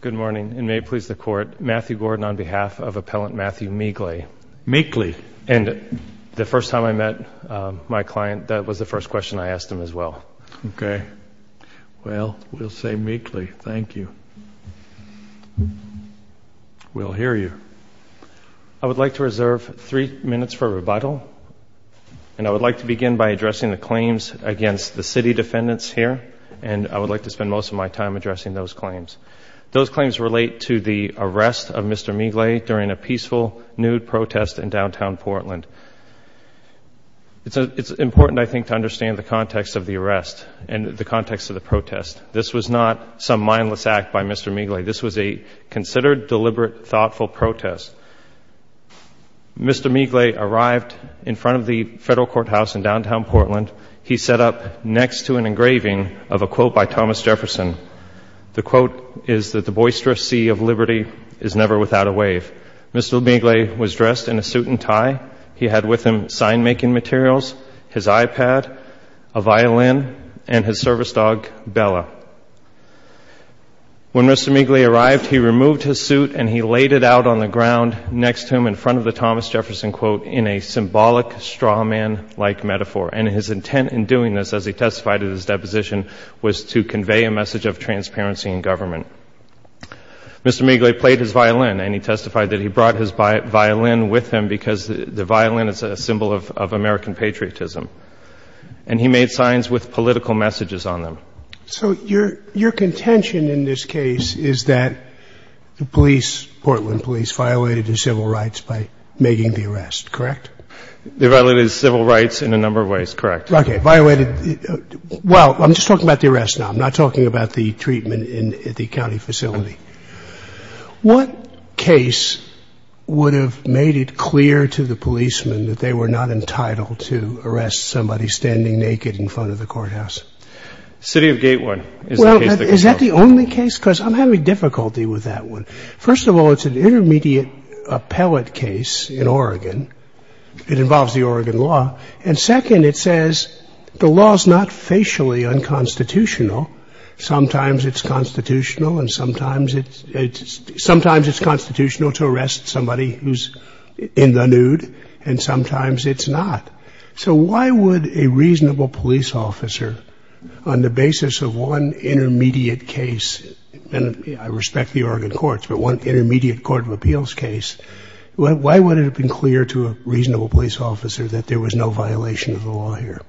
Good morning and may it please the court. Matthew Gordon on behalf of Appellant Matthew Mglej. Mglej. And the first time I met my client that was the first question I asked him as well. Okay well we'll say Mglej. Thank you. We'll hear you. I would like to reserve three minutes for rebuttal and I would like to begin by addressing the claims against the city defendants here and I would like to spend most of my time addressing those claims. Those claims relate to the arrest of Mr. Mglej during a peaceful nude protest in downtown Portland. It's a it's important I think to understand the context of the arrest and the context of the protest. This was not some mindless act by Mr. Mglej. This was a considered deliberate thoughtful protest. Mr. Mglej arrived in front of the federal courthouse in downtown Portland. He set up next to an engraving of a quote by Thomas Jefferson. The quote is that the boisterous sea of liberty is never without a wave. Mr. Mglej was dressed in a suit and tie. He had with him sign making materials, his iPad, a violin, and his service dog Bella. When Mr. Mglej arrived he removed his suit and he laid it out on the ground next to him in front of the Thomas Jefferson quote in a symbolic straw man like metaphor and his intent in doing this as he testified at his deposition was to convey a message of transparency in government. Mr. Mglej played his violin and he testified that he brought his violin with him because the violin is a symbol of American patriotism and he made signs with political messages on them. So your your contention in this case is that the police, Portland police, violated his civil rights by making the arrest, correct? They violated his civil rights in a number of ways, correct. Okay, violated, well I'm just talking about the arrest now, I'm not talking about the treatment in the county facility. What case would have made it clear to the policemen that they were not entitled to arrest somebody standing naked in front of the courthouse? City of Gatewood. Well is that the only case? Because I'm having difficulty with that one. First of all it's an intermediate appellate case in Oregon. It involves the Oregon law and second it says the law is not facially unconstitutional. Sometimes it's constitutional and sometimes it's sometimes it's constitutional to arrest somebody who's in the nude and sometimes it's not. So why would a reasonable police officer on the basis of one intermediate case, and I respect the intermediate court of appeals case, why would it have been clear to a reasonable police officer that there was no violation of the law here?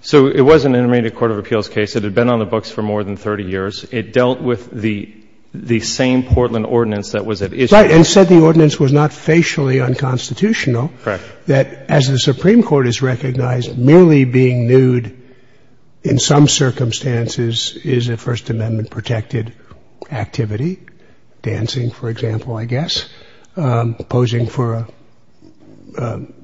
So it was an intermediate court of appeals case. It had been on the books for more than 30 years. It dealt with the the same Portland ordinance that was at issue. Right, and said the ordinance was not facially unconstitutional. Correct. That as the Supreme Court is recognized, merely being nude in some circumstances is a First Amendment violation. Posing for example, I guess. Posing for an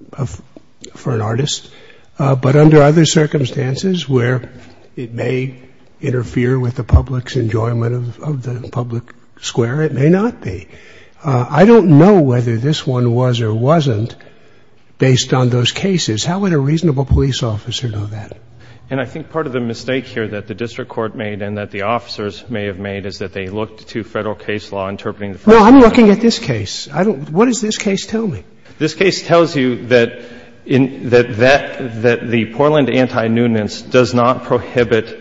artist. But under other circumstances where it may interfere with the public's enjoyment of the public square, it may not be. I don't know whether this one was or wasn't based on those cases. How would a reasonable police officer know that? And I think part of the mistake here that the district court made and that the officers may have made is that they looked to federal case law interpreting the fact that the Portland anti-nudinance does not prohibit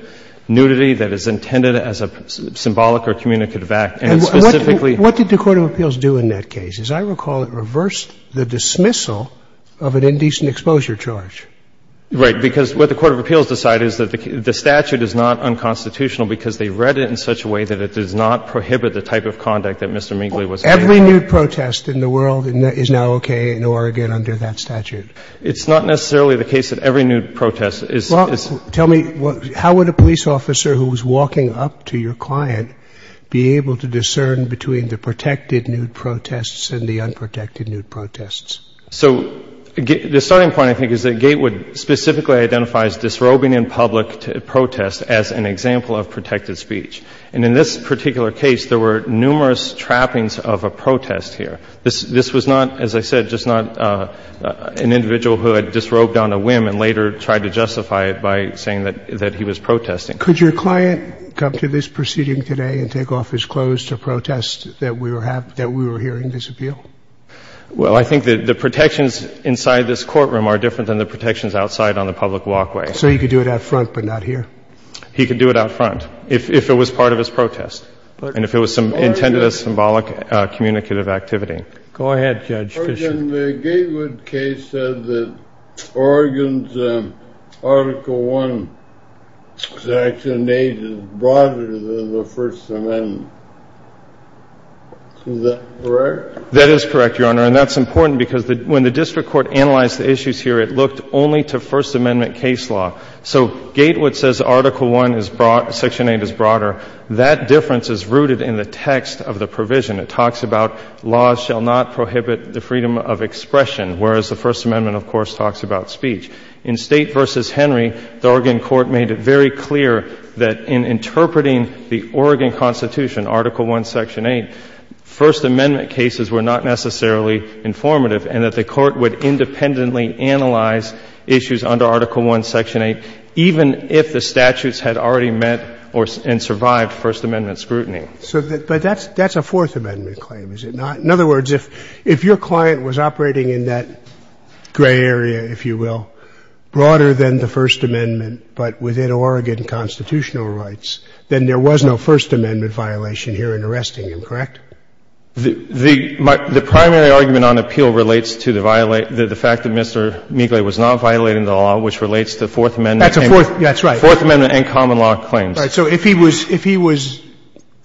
nudity, that is intended as a symbolic or communicative act, and specifically. What did the court of appeals do in that case? As I recall, it reversed the dismissal of an indecent exposure charge. Right. Because what the court of appeals decided is that the statute is not unconstitutional because they read it in such a way that it does not prohibit the type of conduct that Mr. Minkley was. Every nude protest in the world is now okay in Oregon under that statute. It's not necessarily the case that every nude protest is. Tell me, how would a police officer who was walking up to your client be able to discern between the protected nude protests and the unprotected nude protests? So the starting point I think is that Gatewood specifically identifies disrobing in public protest as an example of protected speech. And in this particular case, there were numerous trappings of a protest here. This was not, as I said, just not an individual who had disrobed on a whim and later tried to justify it by saying that he was protesting. Could your client come to this proceeding today and take off his clothes to protest that we were hearing this appeal? Well, I think that the protections inside this courtroom are different than the protections outside on the public walkway. So he could do it out front, but not here? He could do it out front, if it was part of his protest, and if it was some intended as symbolic communicative activity. Go ahead, Judge Fischer. The Gatewood case said that Oregon's Article 1, Section 8 is broader than the First Amendment. Is that correct? That is correct, Your Honor, and that's important because when the district court analyzed the issues here, it looked only to First Amendment cases, and it looked only to First Amendment cases. So the gate would say Article 1, Section 8 is broader, that difference is rooted in the text of the provision. It talks about laws shall not prohibit the freedom of expression, whereas the First Amendment, of course, talks about speech. In State v. Henry, the Oregon court made it very clear that in interpreting the Oregon Constitution, Article 1, Section 8, First Amendment cases were not necessarily informative and that the court would independently analyze issues under Article 1, Section 8, even if the statutes had already met and survived First Amendment scrutiny. So that's a Fourth Amendment claim, is it not? In other words, if your client was operating in that gray area, if you will, broader than the First Amendment, but within Oregon constitutional rights, then there was no First Amendment violation here in arresting him, correct? The primary argument on appeal relates to the fact that Mr. Miegle was not violating the law, which relates to Fourth Amendment and common law claims. That's right. So if he was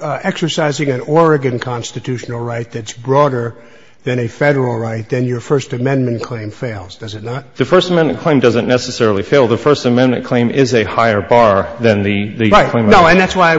exercising an Oregon constitutional right that's broader than a Federal right, then your First Amendment claim fails, does it not? The First Amendment claim doesn't necessarily fail. The First Amendment claim is a higher bar than the claim of the State. Right. No, and that's why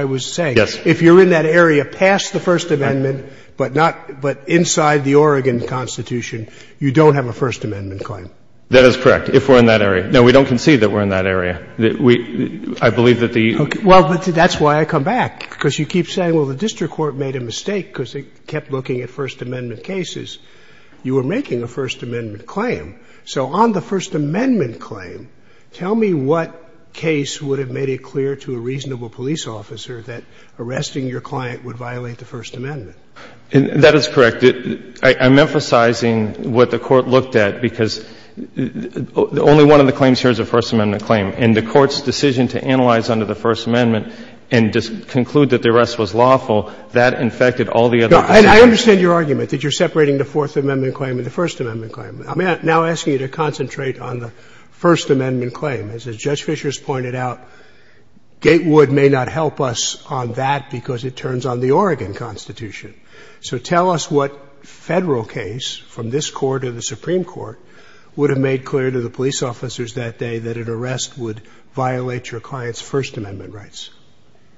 I was saying, if you're in that area past the First Amendment, but not — but inside the Oregon Constitution, you don't have a First Amendment claim. That is correct, if we're in that area. No, we don't concede that we're in that area. We — I believe that the — Well, that's why I come back, because you keep saying, well, the district court made a mistake because it kept looking at First Amendment cases. You were making a First Amendment claim. So on the First Amendment claim, tell me what case would have made it clear to a reasonable police officer that arresting your client would violate the First Amendment? That is correct. I'm emphasizing what the Court looked at, because only one of the claims here is a First Amendment claim. And the Court's decision to analyze under the First Amendment and conclude that the arrest was lawful, that infected all the other cases. No, and I understand your argument, that you're separating the Fourth Amendment claim and the First Amendment claim. I'm now asking you to concentrate on the First Amendment claim. As Judge Fischer has pointed out, Gatewood may not help us on that, because it turns on the Oregon Constitution. So tell us what Federal case, from this Court or the Supreme Court, would have made clear to the police officers that day that an arrest would violate your client's First Amendment rights.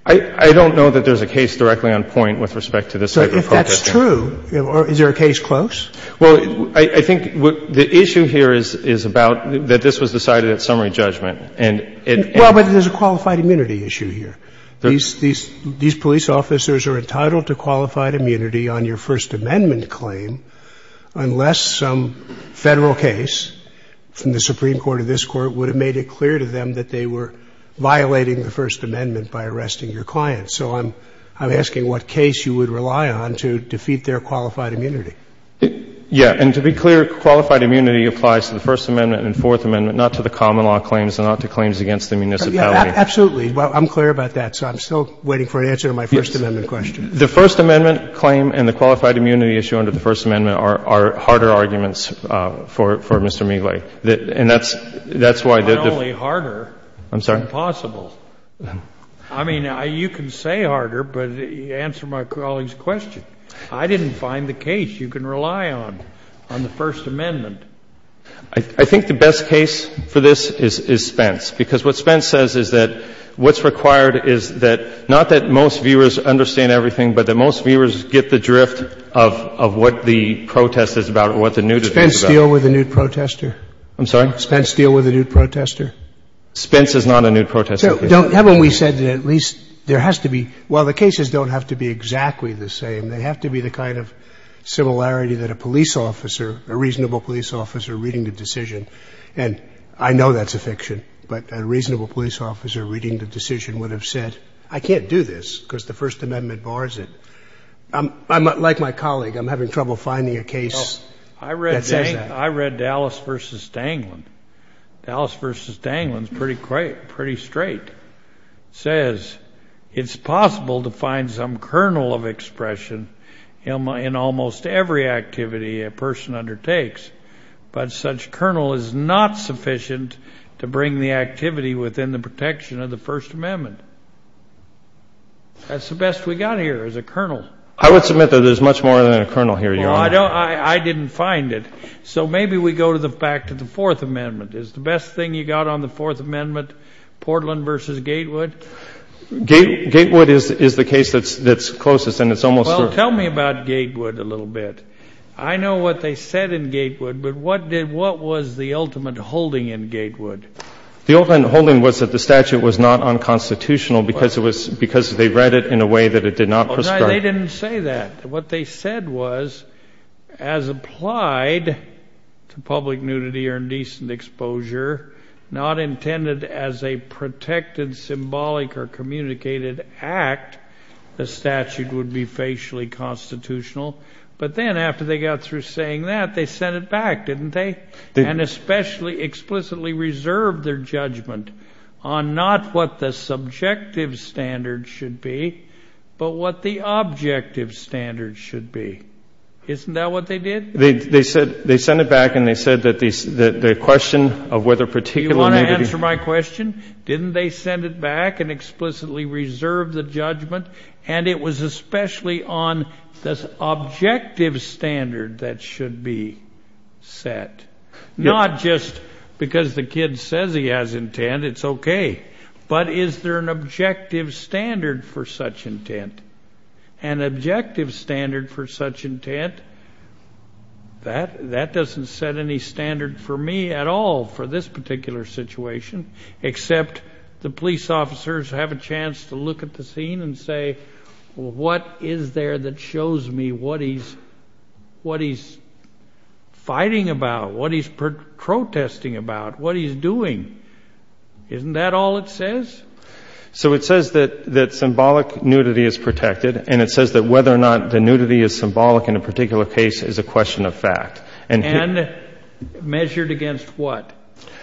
I don't know that there's a case directly on point with respect to this type of protesting. So if that's true, is there a case close? Well, I think the issue here is about that this was decided at summary judgment. Well, but there's a qualified immunity issue here. These police officers are entitled to qualified immunity on your First Amendment claim unless some Federal case from the Supreme Court or this Court would have made it clear to them that they were violating the First Amendment by arresting your client. So I'm asking what case you would rely on to defeat their qualified immunity. Yeah. And to be clear, qualified immunity applies to the First Amendment and Fourth Amendment, not to the common law claims and not to claims against the municipality. Absolutely. I'm clear about that, so I'm still waiting for an answer to my First Amendment question. The First Amendment claim and the qualified immunity issue under the First Amendment are harder arguments for Mr. Meegly. And that's why the defeat of the First Amendment claim is harder than possible. I mean, you can say harder, but answer my colleague's question. I didn't find the case. You can rely on the First Amendment. I think the best case for this is Spence, because what Spence says is that what's required is that, not that most viewers understand everything, but that most viewers get the drift of what the protest is about or what the nude is about. Does Spence deal with a nude protester? I'm sorry? Does Spence deal with a nude protester? Spence is not a nude protester. Haven't we said that at least there has to be, well, the cases don't have to be exactly the same. They have to be the kind of similarity that a police officer, a reasonable police officer reading the decision, and I know that's a fiction, but a reasonable police officer reading the decision would have said, I can't do this because the First Amendment bars it. I'm, like my colleague, I'm having trouble finding a case that says that. I read Dallas versus Danglin. Dallas versus Danglin is pretty straight. Says, it's possible to find some kernel of expression in almost every activity a person undertakes, but such kernel is not sufficient to bring the activity within the protection of the First Amendment. That's the best we got here, is a kernel. I would submit that there's much more than a kernel here, Your Honor. Well, I don't, I didn't find it. So maybe we go back to the Fourth Amendment. Is the best thing you got on the Fourth Amendment Portland versus Gatewood? Gatewood is the case that's closest, and it's almost- Well, tell me about Gatewood a little bit. I know what they said in Gatewood, but what did, what was the ultimate holding in Gatewood? The ultimate holding was that the statute was not unconstitutional because it was, because they read it in a way that it did not prescribe- No, they didn't say that. What they said was, as applied to public nudity or indecent exposure, not intended as a protected symbolic or communicated act, the statute would be facially constitutional. But then after they got through saying that, they sent it back, didn't they? And especially, explicitly reserved their judgment on not what the subjective standard should be, but what the objective standard should be. Isn't that what they did? They, they said, they sent it back and they said that the, the, the question of whether particular nudity- You want to answer my question? Didn't they send it back and explicitly reserve the judgment? And it was especially on the objective standard that should be set. Not just because the kid says he has intent, it's okay. But is there an objective standard for such intent? An objective standard for such intent, that, that doesn't set any standard for me at all for this particular situation, except the police officers have a chance to look at the scene and say, well, what is there that shows me what he's, what he's fighting about, what he's protesting about, what he's doing? Isn't that all it says? So it says that, that symbolic nudity is protected. And it says that whether or not the nudity is symbolic in a particular case is a question of fact. And measured against what?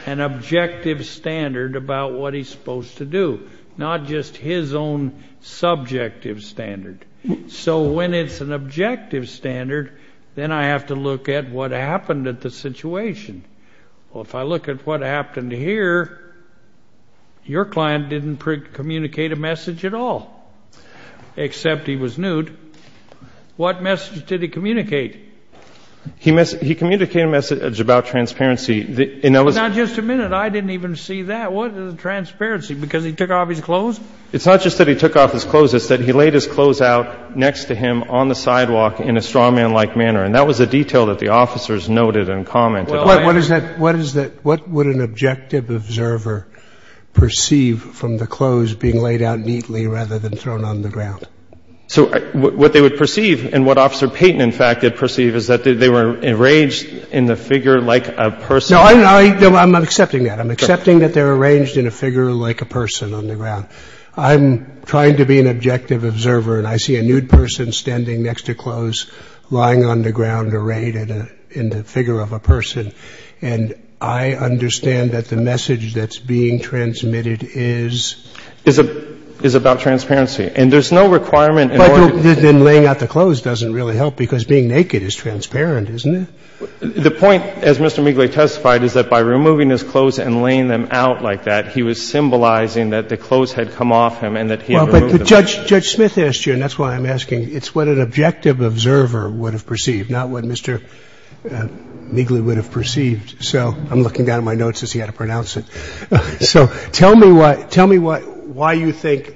An objective standard about what he's supposed to do. Not just his own subjective standard. So when it's an objective standard, then I have to look at what happened at the situation. Well, if I look at what happened here, your client didn't communicate a message at all, except he was nude. What message did he communicate? He mess, he communicated a message about transparency. The, and that was. Now, just a minute. I didn't even see that. What is the transparency? Because he took off his clothes? It's not just that he took off his clothes. It's that he laid his clothes out next to him on the sidewalk in a straw man like manner. And that was a detail that the officers noted and commented. What is that? What would an objective observer perceive from the clothes being laid out neatly rather than thrown on the ground? So what they would perceive and what officer Peyton, in fact, did perceive is that they were enraged in the figure like a person. No, I'm accepting that. I'm accepting that they're arranged in a figure like a person on the ground. I'm trying to be an objective observer and I see a nude person standing next to clothes lying on the ground arrayed in a, in the figure of a person. And I understand that the message that's being transmitted is. Is a, is about transparency. And there's no requirement. But then laying out the clothes doesn't really help because being naked is transparent, isn't it? The point, as Mr. Meegly testified, is that by removing his clothes and laying them out like that, Judge, Judge Smith asked you, and that's why I'm asking. It's what an objective observer would have perceived, not what Mr. Meegly would have perceived. So I'm looking down at my notes as he had to pronounce it. So tell me what, tell me what, why you think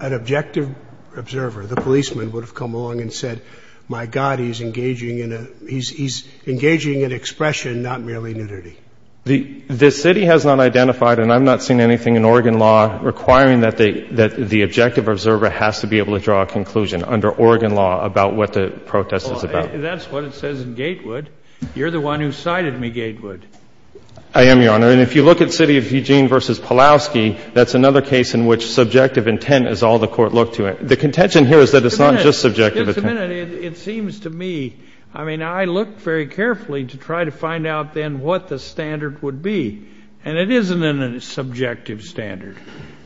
an objective observer, the policeman, would have come along and said, my God, he's engaging in a, he's, he's engaging in expression, not merely nudity. The, the city has not identified, and I've not seen anything in Oregon law requiring that they, that the objective observer has to be able to draw a conclusion under Oregon law about what the protest is about. That's what it says in Gatewood. You're the one who cited me, Gatewood. I am, Your Honor. And if you look at City of Eugene versus Pulaski, that's another case in which subjective intent is all the court looked to it. The contention here is that it's not just subjective. Just a minute, it seems to me, I mean, I looked very carefully to try to find out then what the standard would be. And it isn't a subjective standard.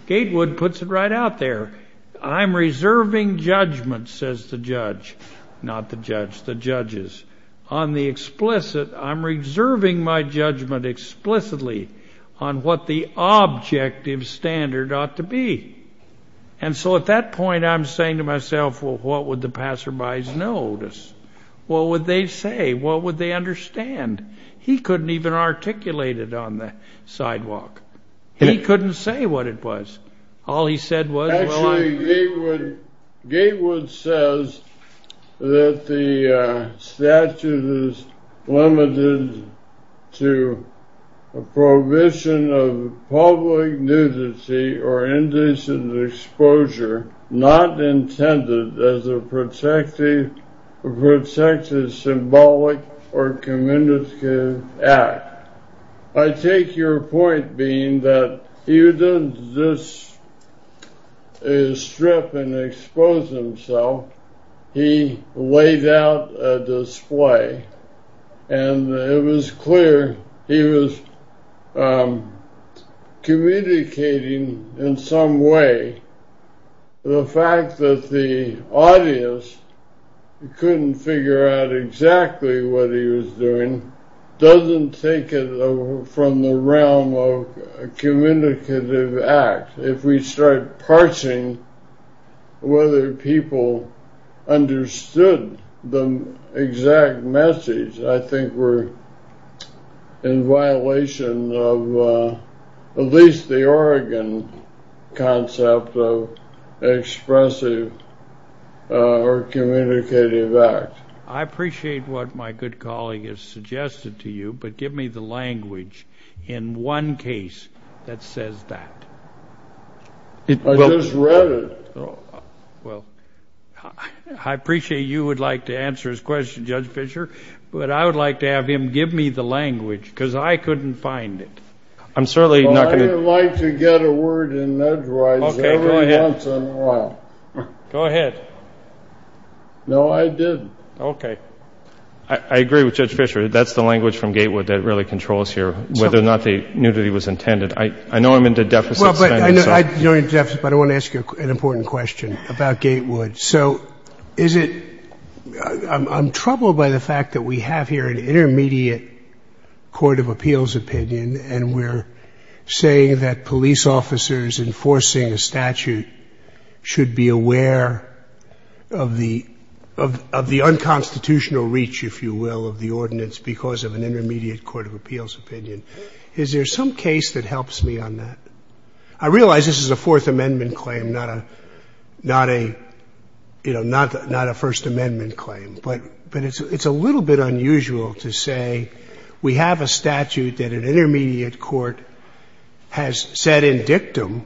Gatewood puts it right out there. I'm reserving judgment, says the judge. Not the judge, the judges. On the explicit, I'm reserving my judgment explicitly on what the objective standard ought to be. And so at that point, I'm saying to myself, well, what would the passerby's notice? What would they say? What would they understand? He couldn't even articulate it on the sidewalk. He couldn't say what it was. All he said was, well, I'm. Gatewood says that the statute is limited to a prohibition of public nudity or indecent exposure not intended as a protective symbolic or communicative act. I take your point being that he didn't just strip and expose himself. He laid out a display. And it was clear he was communicating in some way. The fact that the audience couldn't figure out exactly what he was doing doesn't take it from the realm of a communicative act. If we start parsing whether people understood the exact message, I think we're in violation of at least the Oregon concept of expressive or communicative act. I appreciate what my good colleague has suggested to you, but give me the language in one case that says that. I just read it. Well, I appreciate you would like to answer his question, Judge Fischer, but I would like to have him give me the language because I couldn't find it. I'm certainly not going to. Well, I like to get a word in edgewise every once in a while. Go ahead. No, I didn't. OK. I agree with Judge Fischer. That's the language from Gatewood that really controls here, whether or not the nudity was intended. I know I'm into deficit spending, but I want to ask you an important question about Gatewood. So I'm troubled by the fact that we have here an intermediate court of appeals opinion, and we're saying that police officers enforcing a statute should be aware of the unconstitutional reach, if you will, of the ordinance because of an intermediate court of appeals opinion. Is there some case that helps me on that? I realize this is a Fourth Amendment claim, not a First Amendment claim, but it's a little bit unusual to say we have a statute that an intermediate court has said in dictum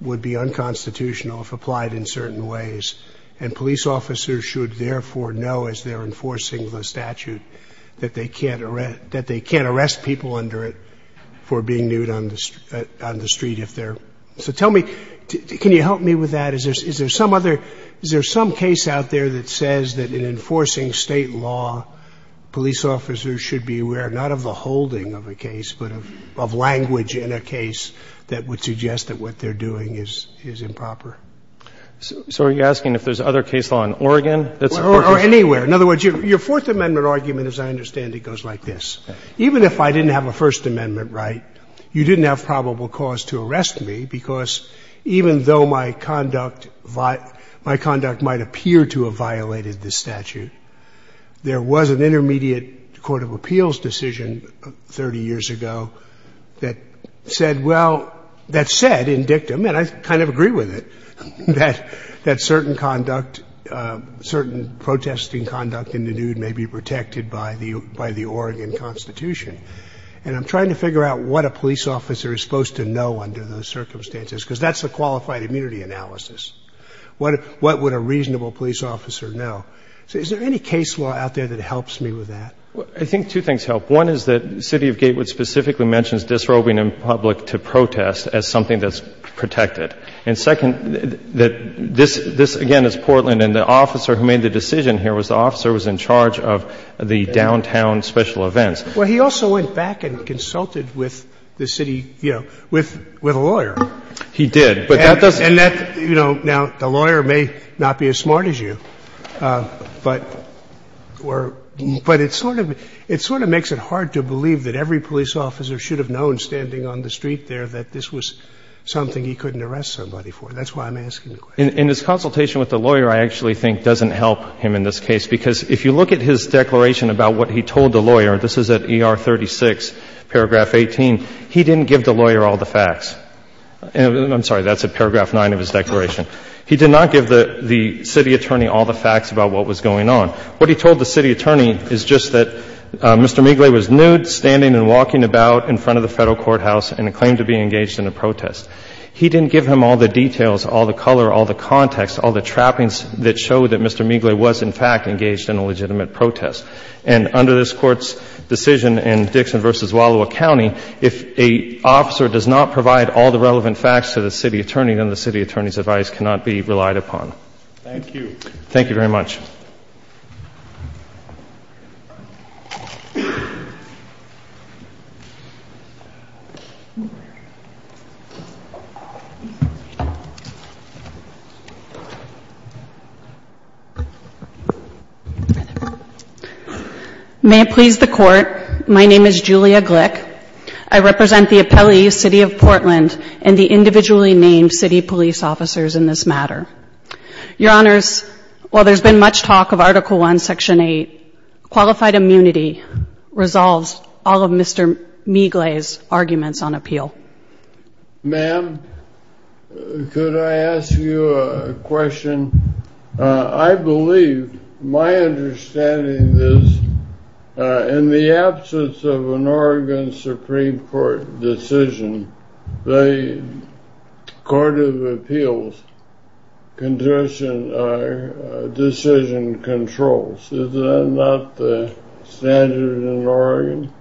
would be unconstitutional if applied in certain ways, and police officers should therefore know, as they're enforcing the statute, that they can't arrest people under it for being nude on the street if they're. So tell me, can you help me with that? Is there some case out there that says that in enforcing state law, police officers should be aware not of the holding of a case, but of language in a case that would suggest that what they're doing is improper? So are you asking if there's other case law in Oregon? Anywhere. In other words, your Fourth Amendment argument, as I understand it, goes like this. Even if I didn't have a First Amendment right, you didn't have probable cause to arrest me because even though my conduct might appear to have violated the statute, there was an intermediate court of appeals decision 30 years ago that said, well, that said in dictum, and I kind of agree with it, that certain conduct, certain protesting conduct in the nude may be protected by the Oregon Constitution. And I'm trying to figure out what a police officer is supposed to know under those circumstances, because that's a qualified immunity analysis. What would a reasonable police officer know? So is there any case law out there that helps me with that? I think two things help. One is that the city of Gatewood specifically mentions disrobing in public to protest as something that's protected. And second, this again is Portland, and the officer who made the decision here was the officer who was in charge of the downtown special events. Well, he also went back and consulted with the city, you know, with a lawyer. He did. But that doesn't You know, now, the lawyer may not be as smart as you. But it sort of makes it hard to believe that every police officer should have known standing on the street there that this was something he couldn't arrest somebody for. That's why I'm asking the question. In his consultation with the lawyer, I actually think doesn't help him in this case. Because if you look at his declaration about what he told the lawyer, this is at ER 36, paragraph 18, he didn't give the lawyer all the facts. I'm sorry, that's at paragraph 9 of his declaration. He did not give the city attorney all the facts about what was going on. What he told the city attorney is just that Mr. Migle was nude, standing and walking about in front of the federal courthouse and claimed to be engaged in a protest. He didn't give him all the details, all the color, all the context, all the trappings that show that Mr. Migle was, in fact, engaged in a legitimate protest. And under this Court's decision in Dixon v. Wallowa County, if a officer does not provide all the relevant facts to the city attorney, then the city attorney's advice cannot be relied upon. Thank you. Thank you very much. May it please the Court. My name is Julia Glick. I represent the appellees, City of Portland, and the individually named city police officers in this matter. Your Honors, while there's been much talk of Article I, Section 8, qualified immunity resolves all of Mr. Migle's arguments on appeal. Ma'am, could I ask you a question? I believe, my understanding is, in the absence of an Oregon Supreme Court decision, the Court of Appeals decision controls. Is that not the standard in Oregon?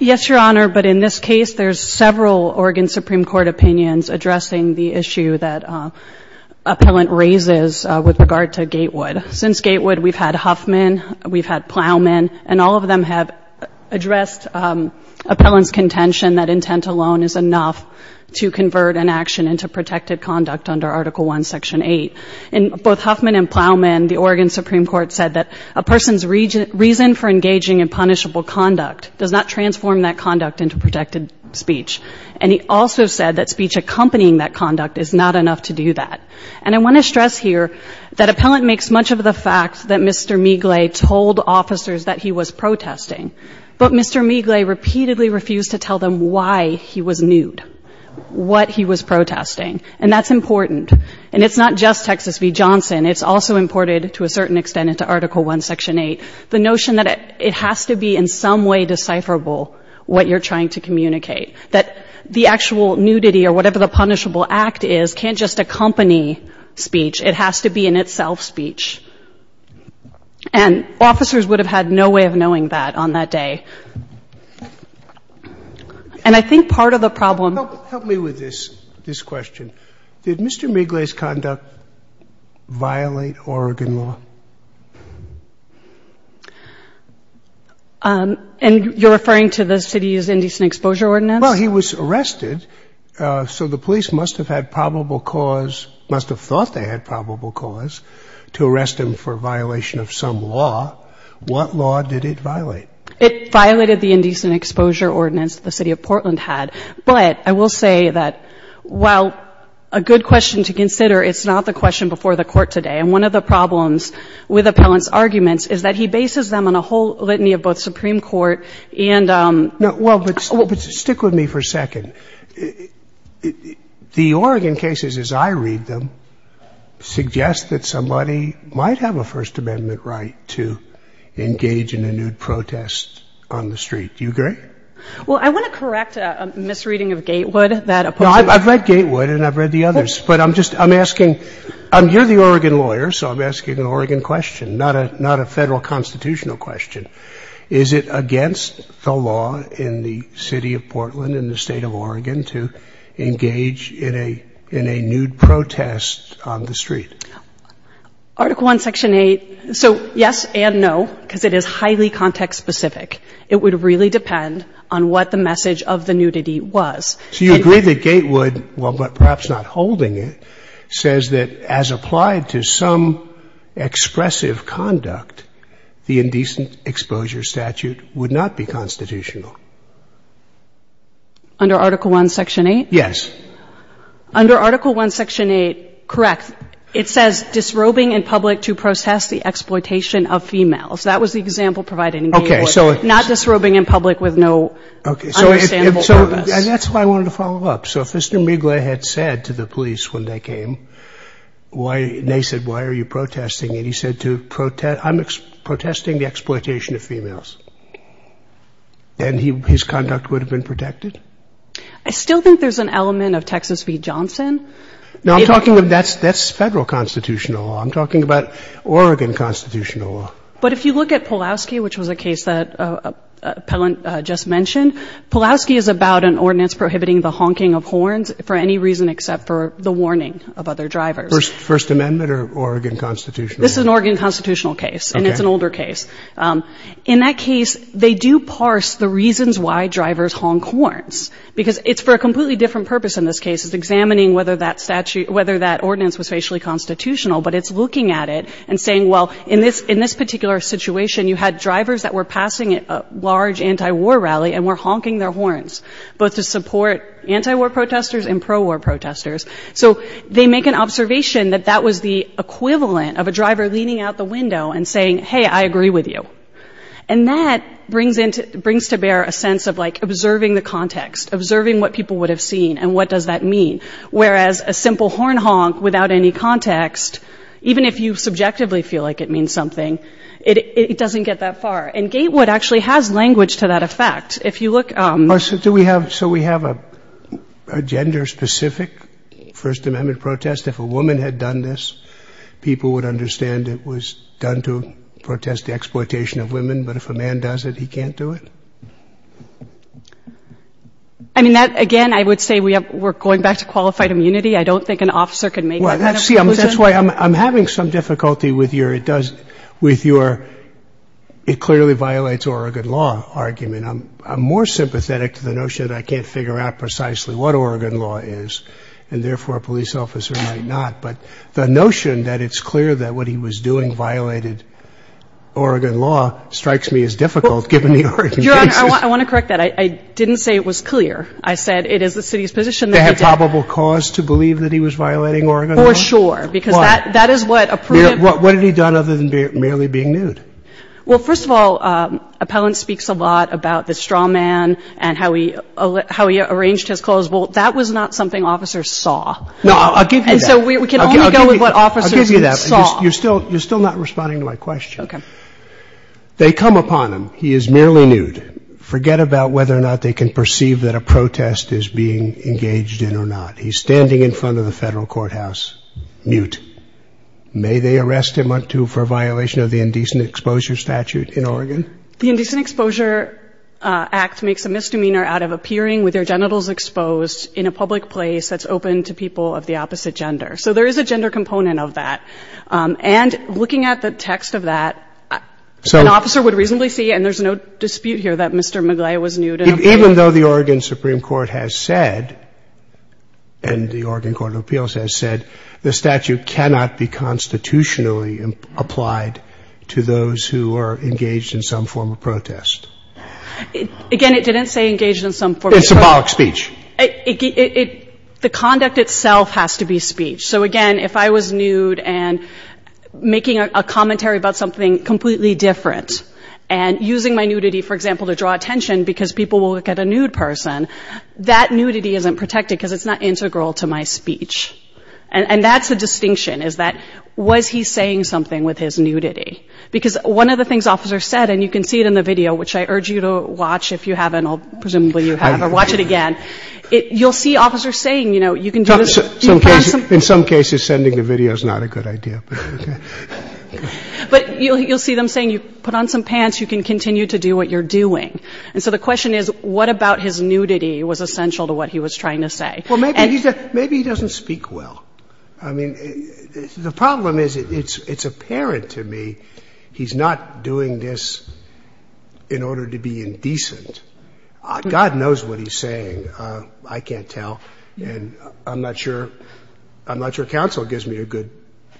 Yes, Your Honor. But in this case, there's several Oregon Supreme Court opinions addressing the issue that appellant raises with regard to Gatewood. Since Gatewood, we've had Huffman, we've had Plowman, and all of them have addressed appellant's contention that intent alone is enough to convert an action into protected conduct under Article I, Section 8. In both Huffman and Plowman, the Oregon Supreme Court said that a person's reason for engaging in punishable conduct does not transform that conduct into protected speech. And he also said that speech accompanying that conduct is not enough to do that. And I want to stress here that appellant makes much of the fact that Mr. Migle told officers that he was protesting. But Mr. Migle repeatedly refused to tell them why he was nude, what he was protesting. And that's important. And it's not just Texas v. Johnson. It's also imported, to a certain extent, into Article I, Section 8. The notion that it has to be in some way decipherable what you're trying to communicate. That the actual nudity or whatever the punishable act is can't just accompany speech. It has to be in itself speech. And officers would have had no way of knowing that on that day. And I think part of the problem... Help me with this question. Did Mr. Migle's conduct violate Oregon law? And you're referring to the city's Indecent Exposure Ordinance? Well, he was arrested, so the police must have had probable cause... Must have thought they had probable cause to arrest him for violation of some law. What law did it violate? It violated the Indecent Exposure Ordinance the city of Portland had. But I will say that, while a good question to consider, it's not the question before the Court today. And one of the problems with Appellant's arguments is that he bases them on a whole litany of both Supreme Court and... No, well, but stick with me for a second. The Oregon cases, as I read them, suggest that somebody might have a First Amendment right to engage in a nude protest on the street. Do you agree? Well, I want to correct a misreading of Gatewood that... No, I've read Gatewood and I've read the others. But I'm just, I'm asking, you're the Oregon lawyer, so I'm asking an Oregon question, not a Federal constitutional question. Is it against the law in the city of Portland and the state of Oregon to engage in a nude protest on the street? Article 1, Section 8, so yes and no, because it is highly context specific. It would really depend on what the message of the nudity was. So you agree that Gatewood, well, but perhaps not holding it, says that as applied to some expressive conduct, the indecent exposure statute would not be constitutional? Under Article 1, Section 8? Yes. Under Article 1, Section 8, correct. It says disrobing in public to process the exploitation of females. That was the example provided in Gatewood, not disrobing in public with no understandable purpose. So that's why I wanted to follow up. So if Mr. Migle had said to the police when they came, they said, why are you protesting? And he said, I'm protesting the exploitation of females. And his conduct would have been protected? I still think there's an element of Texas v. Johnson. No, I'm talking, that's Federal constitutional law. I'm talking about Oregon constitutional law. But if you look at Pulaski, which was a case that appellant just mentioned, Pulaski is about an ordinance prohibiting the honking of horns for any reason except for the warning of other drivers. First Amendment or Oregon constitutional? This is an Oregon constitutional case, and it's an older case. In that case, they do parse the reasons why drivers honk horns. Because it's for a completely different purpose in this case, it's examining whether that ordinance was facially constitutional. But it's looking at it and saying, well, in this particular situation, you had drivers that were passing a large anti-war rally and were honking their horns, both to support anti-war protesters and pro-war protesters. So they make an observation that that was the equivalent of a driver leaning out the window and saying, hey, I agree with you. And that brings to bear a sense of observing the context, observing what people would have seen, and what does that mean? Whereas a simple horn honk without any context, even if you subjectively feel like it means something, it doesn't get that far. And Gatewood actually has language to that effect. So do we have a gender-specific First Amendment protest? If a woman had done this, people would understand it was done to protest the exploitation of women. But if a man does it, he can't do it? I mean, again, I would say we're going back to qualified immunity. I don't think an officer could make that kind of conclusion. I'm having some difficulty with your it clearly violates Oregon law argument. I'm more sympathetic to the notion that I can't figure out precisely what Oregon law is, and therefore, a police officer might not. But the notion that it's clear that what he was doing violated Oregon law strikes me as difficult, given the Oregon case. Your Honor, I want to correct that. I didn't say it was clear. I said it is the city's position that he did- To have probable cause to believe that he was violating Oregon law? For sure, because that is what a- What had he done other than merely being nude? Well, first of all, Appellant speaks a lot about the straw man and how he arranged his clothes. Well, that was not something officers saw. No, I'll give you that. And so we can only go with what officers saw. You're still not responding to my question. Okay. They come upon him. He is merely nude. Forget about whether or not they can perceive that a protest is being engaged in or not. He's standing in front of the federal courthouse, mute. May they arrest him or two for a violation of the indecent exposure statute in Oregon? The Indecent Exposure Act makes a misdemeanor out of appearing with their genitals exposed in a public place that's open to people of the opposite gender. So there is a gender component of that. And looking at the text of that, an officer would reasonably see, and there's no dispute here, that Mr. McGlay was nude and- Even though the Oregon Supreme Court has said, and the Oregon Court of Appeals has said, the statute cannot be constitutionally applied to those who are engaged in some form of protest. Again, it didn't say engaged in some form of- In symbolic speech. The conduct itself has to be speech. So again, if I was nude and making a commentary about something completely different, and using my nudity, for example, to draw attention because people will look at a nude person, that nudity isn't protected because it's not integral to my speech. And that's the distinction, is that, was he saying something with his nudity? Because one of the things officers said, and you can see it in the video, which I urge you to watch if you haven't, or presumably you have, or watch it again. You'll see officers saying, you can do this- In some cases, sending the video is not a good idea. But you'll see them saying, you put on some pants, you can continue to do what you're doing. And so the question is, what about his nudity was essential to what he was trying to say? Well, maybe he doesn't speak well. I mean, the problem is, it's apparent to me, he's not doing this in order to be indecent. God knows what he's saying, I can't tell. And I'm not sure counsel gives me a good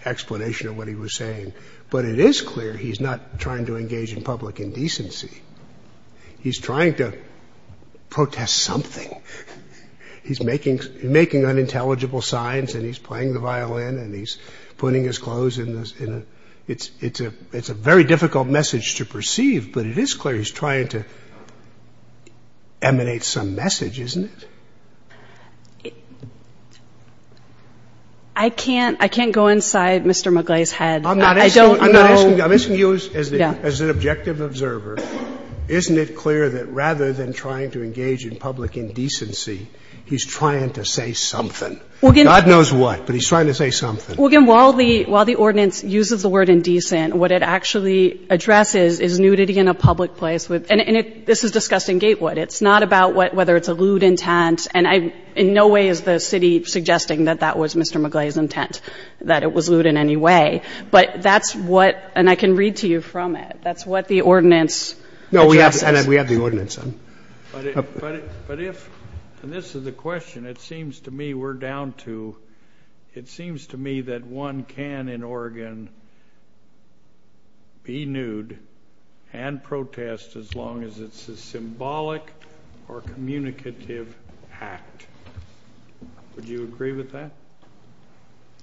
explanation of what he was saying. But it is clear he's not trying to engage in public indecency. He's trying to protest something. He's making unintelligible signs, and he's playing the violin, and he's putting his clothes in. It's a very difficult message to perceive. But it is clear he's trying to emanate some message, isn't it? I can't go inside Mr. McGlay's head. I'm not asking you, I'm asking you as an objective observer, isn't it clear that rather than trying to engage in public indecency, he's trying to say something? God knows what, but he's trying to say something. Well, again, while the ordinance uses the word indecent, what it actually addresses is nudity in a public place, and this is discussed in Gatewood. It's not about whether it's a lewd intent, and in no way is the city suggesting that that was Mr. McGlay's intent, that it was lewd in any way. But that's what, and I can read to you from it, that's what the ordinance addresses. No, we have the ordinance. But if, and this is the question, it seems to me we're down to, it seems to me that one can in Oregon be nude and protest as long as it's a symbolic or communicative act. Would you agree with that?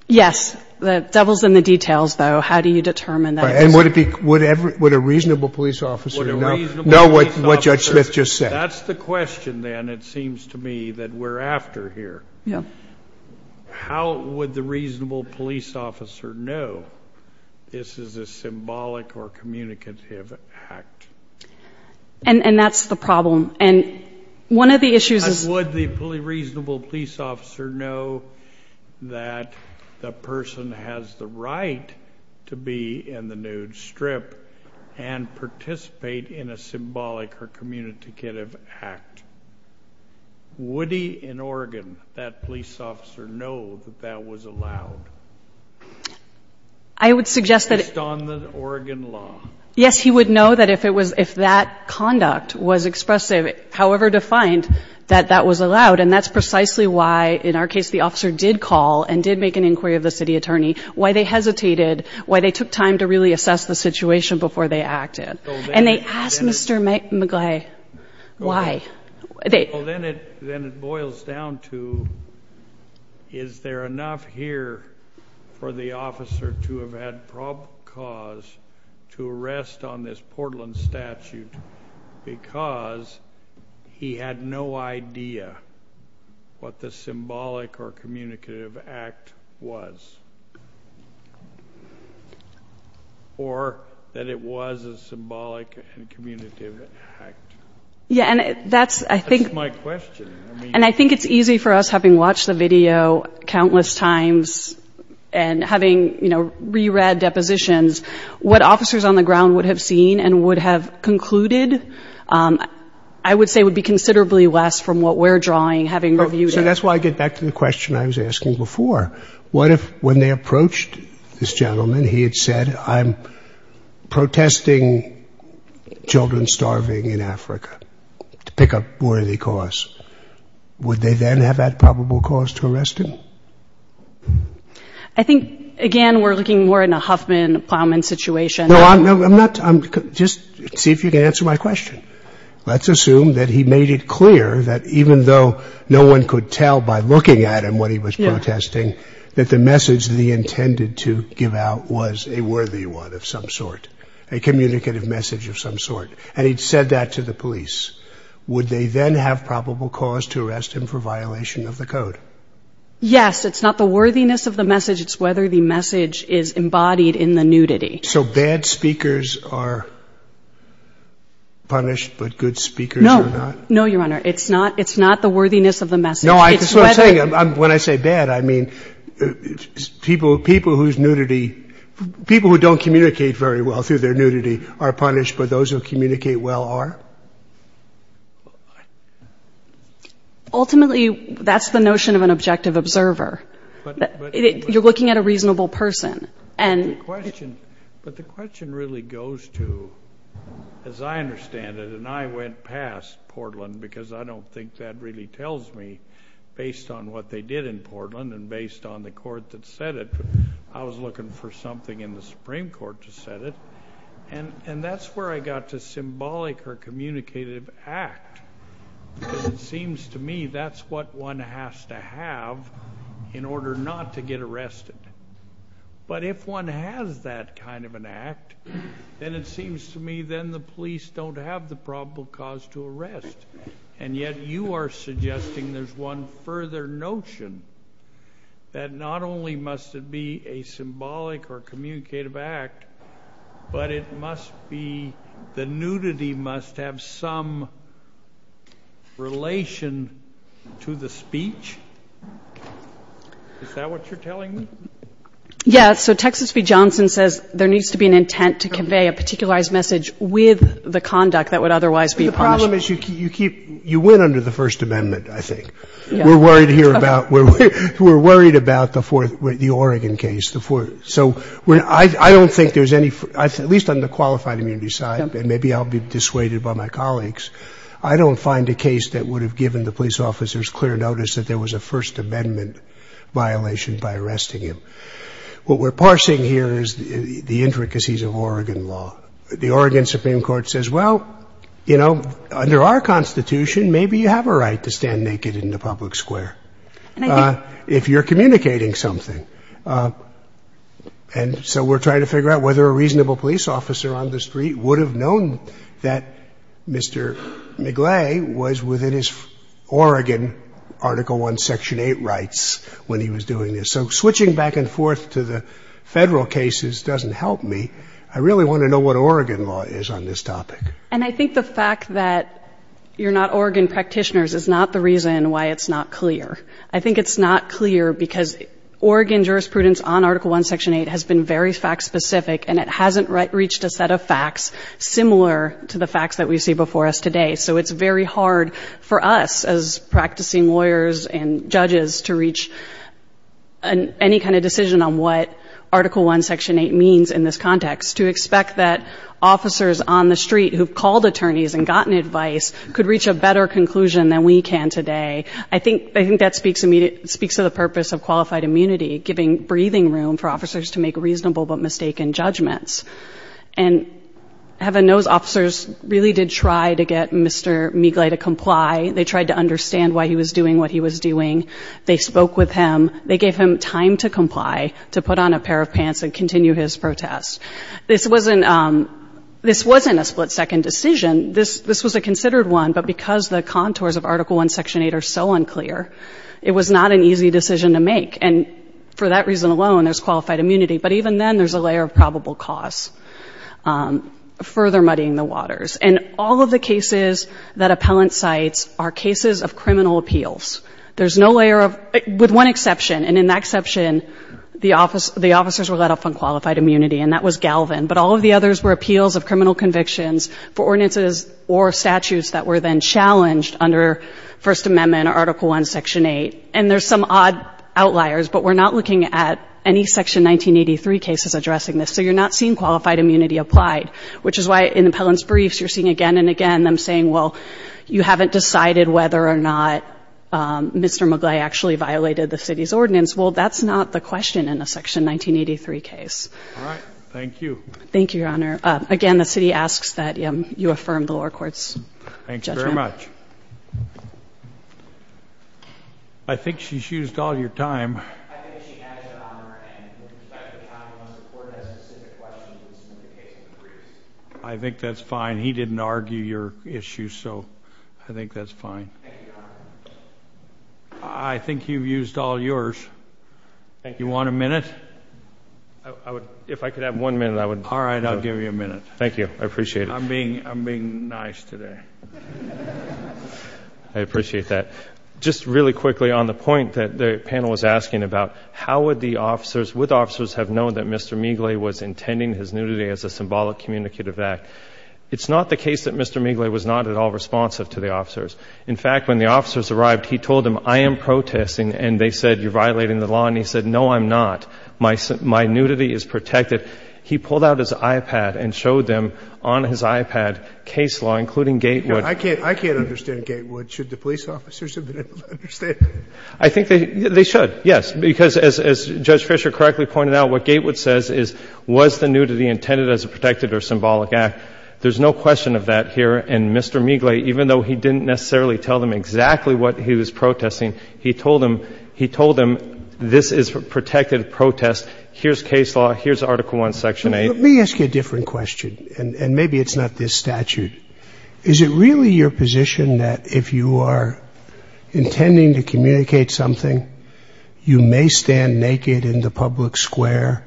Yes. The devil's in the details, though. How do you determine that? And would it be, would a reasonable police officer know what Judge Smith just said? That's the question, then, it seems to me, that we're after here. Yeah. How would the reasonable police officer know this is a symbolic or communicative act? And that's the problem. And one of the issues is. Would the reasonable police officer know that the person has the right to be in the nude strip and participate in a symbolic or communicative act? Would he in Oregon, that police officer, know that that was allowed? I would suggest that. Based on the Oregon law. Yes, he would know that if it was, if that conduct was expressive, however defined, that that was allowed. And that's precisely why, in our case, the officer did call and did make an inquiry of the city attorney, why they hesitated, why they took time to really assess the situation before they acted. And they asked Mr. McGlay why. Well, then it boils down to, is there enough here for the officer to have had cause to arrest on this Portland statute because he had no idea what the symbolic or communicative act was, or that it was a symbolic and communicative act? Yeah, and that's, I think. That's my question, I mean. And I think it's easy for us, having watched the video countless times, and having, you know, re-read depositions, what officers on the ground would have seen and would have concluded, I would say would be considerably less from what we're drawing, having reviewed it. So that's why I get back to the question I was asking before. What if, when they approached this gentleman, he had said I'm protesting children starving in Africa to pick up worthy cause. Would they then have had probable cause to arrest him? I think, again, we're looking more in a Huffman, Plowman situation. No, I'm not. I'm just, see if you can answer my question. Let's assume that he made it clear that even though no one could tell by looking at him what he was protesting, that the message that he intended to give out was a worthy one of some sort, a communicative message of some sort. And he'd said that to the police. Would they then have probable cause to arrest him for violation of the code? Yes. It's not the worthiness of the message. It's whether the message is embodied in the nudity. So bad speakers are punished, but good speakers are not? No, Your Honor. It's not the worthiness of the message. No, I guess what I'm saying, when I say bad, I mean people whose nudity, people who don't communicate very well through their nudity are punished, but those who communicate well are? Ultimately, that's the notion of an objective observer. You're looking at a reasonable person. But the question really goes to, as I understand it, and I went past Portland because I don't think that really tells me, based on what they did in Portland and based on the court that said it, I was looking for something in the Supreme Court to set it. And that's where I got to symbolic or communicative act. It seems to me that's what one has to have in order not to get arrested. But if one has that kind of an act, then it seems to me then the police don't have the probable cause to arrest. And yet you are suggesting there's one further notion that not only must it be a symbolic or communicative act, but it must be the nudity must have some relation to the speech? Is that what you're telling me? Yeah, so Texas v. Johnson says there needs to be an intent to convey a particularized message with the conduct that would otherwise be punished. The problem is you keep, you win under the First Amendment, I think. We're worried here about, we're worried about the Oregon case. So I don't think there's any, at least on the qualified immunity side, and maybe I'll be dissuaded by my colleagues, I don't find a case that would have given the police officers clear notice that there was a First Amendment violation by arresting him. What we're parsing here is the intricacies of Oregon law. The Oregon Supreme Court says, well, you know, under our Constitution, maybe you have a right to stand naked in the public square if you're communicating something. And so we're trying to figure out whether a reasonable police officer on the street would have known that Mr. McGlay was within his Oregon Article 1, Section 8 rights when he was doing this. So switching back and forth to the federal cases doesn't help me. I really want to know what Oregon law is on this topic. And I think the fact that you're not Oregon practitioners is not the reason why it's not clear. I think it's not clear because Oregon jurisprudence on Article 1, Section 8 has been very fact-specific, and it hasn't reached a set of facts similar to the facts that we see before us today. So it's very hard for us as practicing lawyers and judges to reach any kind of decision on what Article 1, Section 8 means in this context, to expect that officers on the street who've called attorneys and gotten advice could reach a better conclusion than we can today. I think that speaks to the purpose of qualified immunity, giving breathing room for officers to make reasonable but mistaken judgments. And heaven knows officers really did try to get Mr. McGlay to comply. They tried to understand why he was doing what he was doing. They spoke with him. They gave him time to comply, to put on a pair of pants and continue his protest. This wasn't a split-second decision. This was a considered one, but because the contours of Article 1, Section 8 are so unclear, it was not an easy decision to make. And for that reason alone, there's qualified immunity. But even then, there's a layer of probable cause, further muddying the waters. And all of the cases that appellant cites are cases of criminal appeals. There's no layer of, with one exception, and in that exception, the officers were let off on qualified immunity, and that was Galvin. But all of the others were appeals of criminal convictions for ordinances or statutes that were then challenged under First Amendment, Article 1, Section 8. And there's some odd outliers, but we're not looking at any Section 1983 cases addressing this. So you're not seeing qualified immunity applied, which is why in appellant's briefs, you're seeing again and again them saying, well, you haven't decided whether or not Mr. McGlay actually violated the city's ordinance. Well, that's not the question in a Section 1983 case. All right, thank you. Thank you, Your Honor. Again, the city asks that you affirm the lower court's judgment. Thank you very much. I think she's used all your time. I think she added it on her end. In respect to the time, unless the court has specific questions in the briefs. I think that's fine. Thank you, Your Honor. I think you've used all yours. You want a minute? If I could have one minute, I would. All right, I'll give you a minute. Thank you, I appreciate it. I'm being nice today. I appreciate that. Just really quickly on the point that the panel was asking about, how would the officers, would officers have known that Mr. McGlay was intending his nudity as a symbolic communicative act? It's not the case that Mr. McGlay was not at all responsive to the officers. In fact, when the officers arrived, he told them, I am protesting. And they said, you're violating the law. And he said, no, I'm not. My nudity is protected. He pulled out his iPad and showed them on his iPad case law, including Gatewood. I can't understand Gatewood. Should the police officers have been able to understand? I think they should, yes. Because as Judge Fisher correctly pointed out, what Gatewood says is, was the nudity intended as a protected or symbolic act? There's no question of that here. And Mr. McGlay, even though he didn't necessarily tell them exactly what he was protesting, he told them, he told them, this is a protected protest. Here's case law, here's Article 1, Section 8. Let me ask you a different question, and maybe it's not this statute. Is it really your position that if you are intending to communicate something, you may stand naked in the public square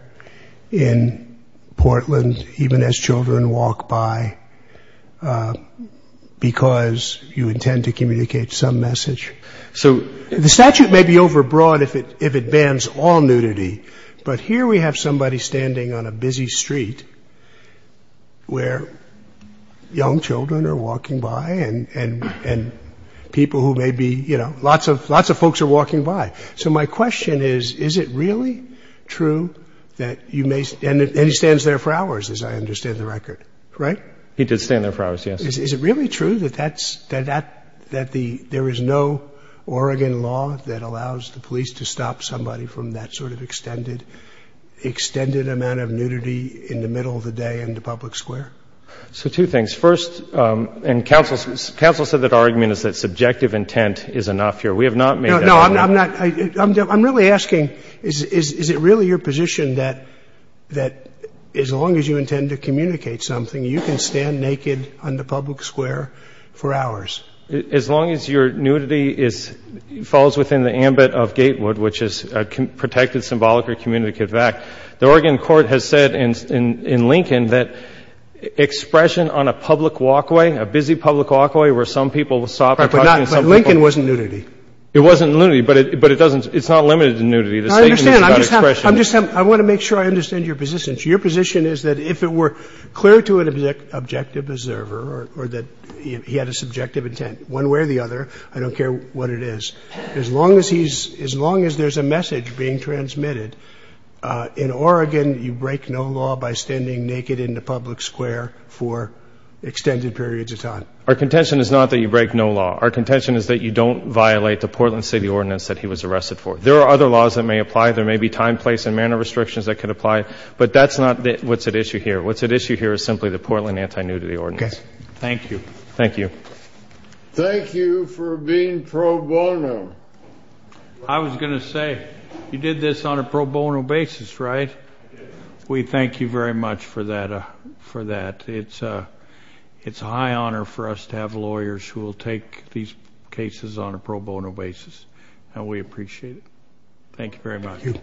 in Portland, even as children walk by, because you intend to communicate some message? So the statute may be overbroad if it bans all nudity. But here we have somebody standing on a busy street where young children are walking by and people who may be, you know, lots of folks are walking by. So my question is, is it really true that you may, and he stands there for hours, as I understand the record, right? He did stand there for hours, yes. Is it really true that there is no Oregon law that allows the police to stop somebody from that sort of extended amount of nudity in the middle of the day in the public square? So two things. First, and counsel said that our argument is that subjective intent is enough here. We have not made that argument. I'm really asking, is it really your position that as long as you intend to communicate something, you can stand naked on the public square for hours? As long as your nudity falls within the ambit of Gatewood, which is a protected symbolic or communicative act, the Oregon court has said in Lincoln that expression on a public walkway, a busy public walkway where some people stop and talk to some people. But Lincoln wasn't nudity. It wasn't nudity, but it doesn't, it's not limited to nudity. The statement is about expression. I'm just having, I want to make sure I understand your position. So your position is that if it were clear to an objective observer or that he had a subjective intent, one way or the other, I don't care what it is. As long as he's, as long as there's a message being transmitted, in Oregon, you break no law by standing naked in the public square for extended periods of time. Our contention is not that you break no law. Our contention is that you don't violate the Portland City Ordinance that he was arrested for. There are other laws that may apply. There may be time, place, and manner restrictions that could apply. But that's not what's at issue here. What's at issue here is simply the Portland Anti-Nudity Ordinance. Thank you. Thank you. Thank you for being pro bono. I was going to say, you did this on a pro bono basis, right? We thank you very much for that. It's a high honor for us to have lawyers who will take these cases on a pro bono basis. And we appreciate it. Thank you very much. Thank you.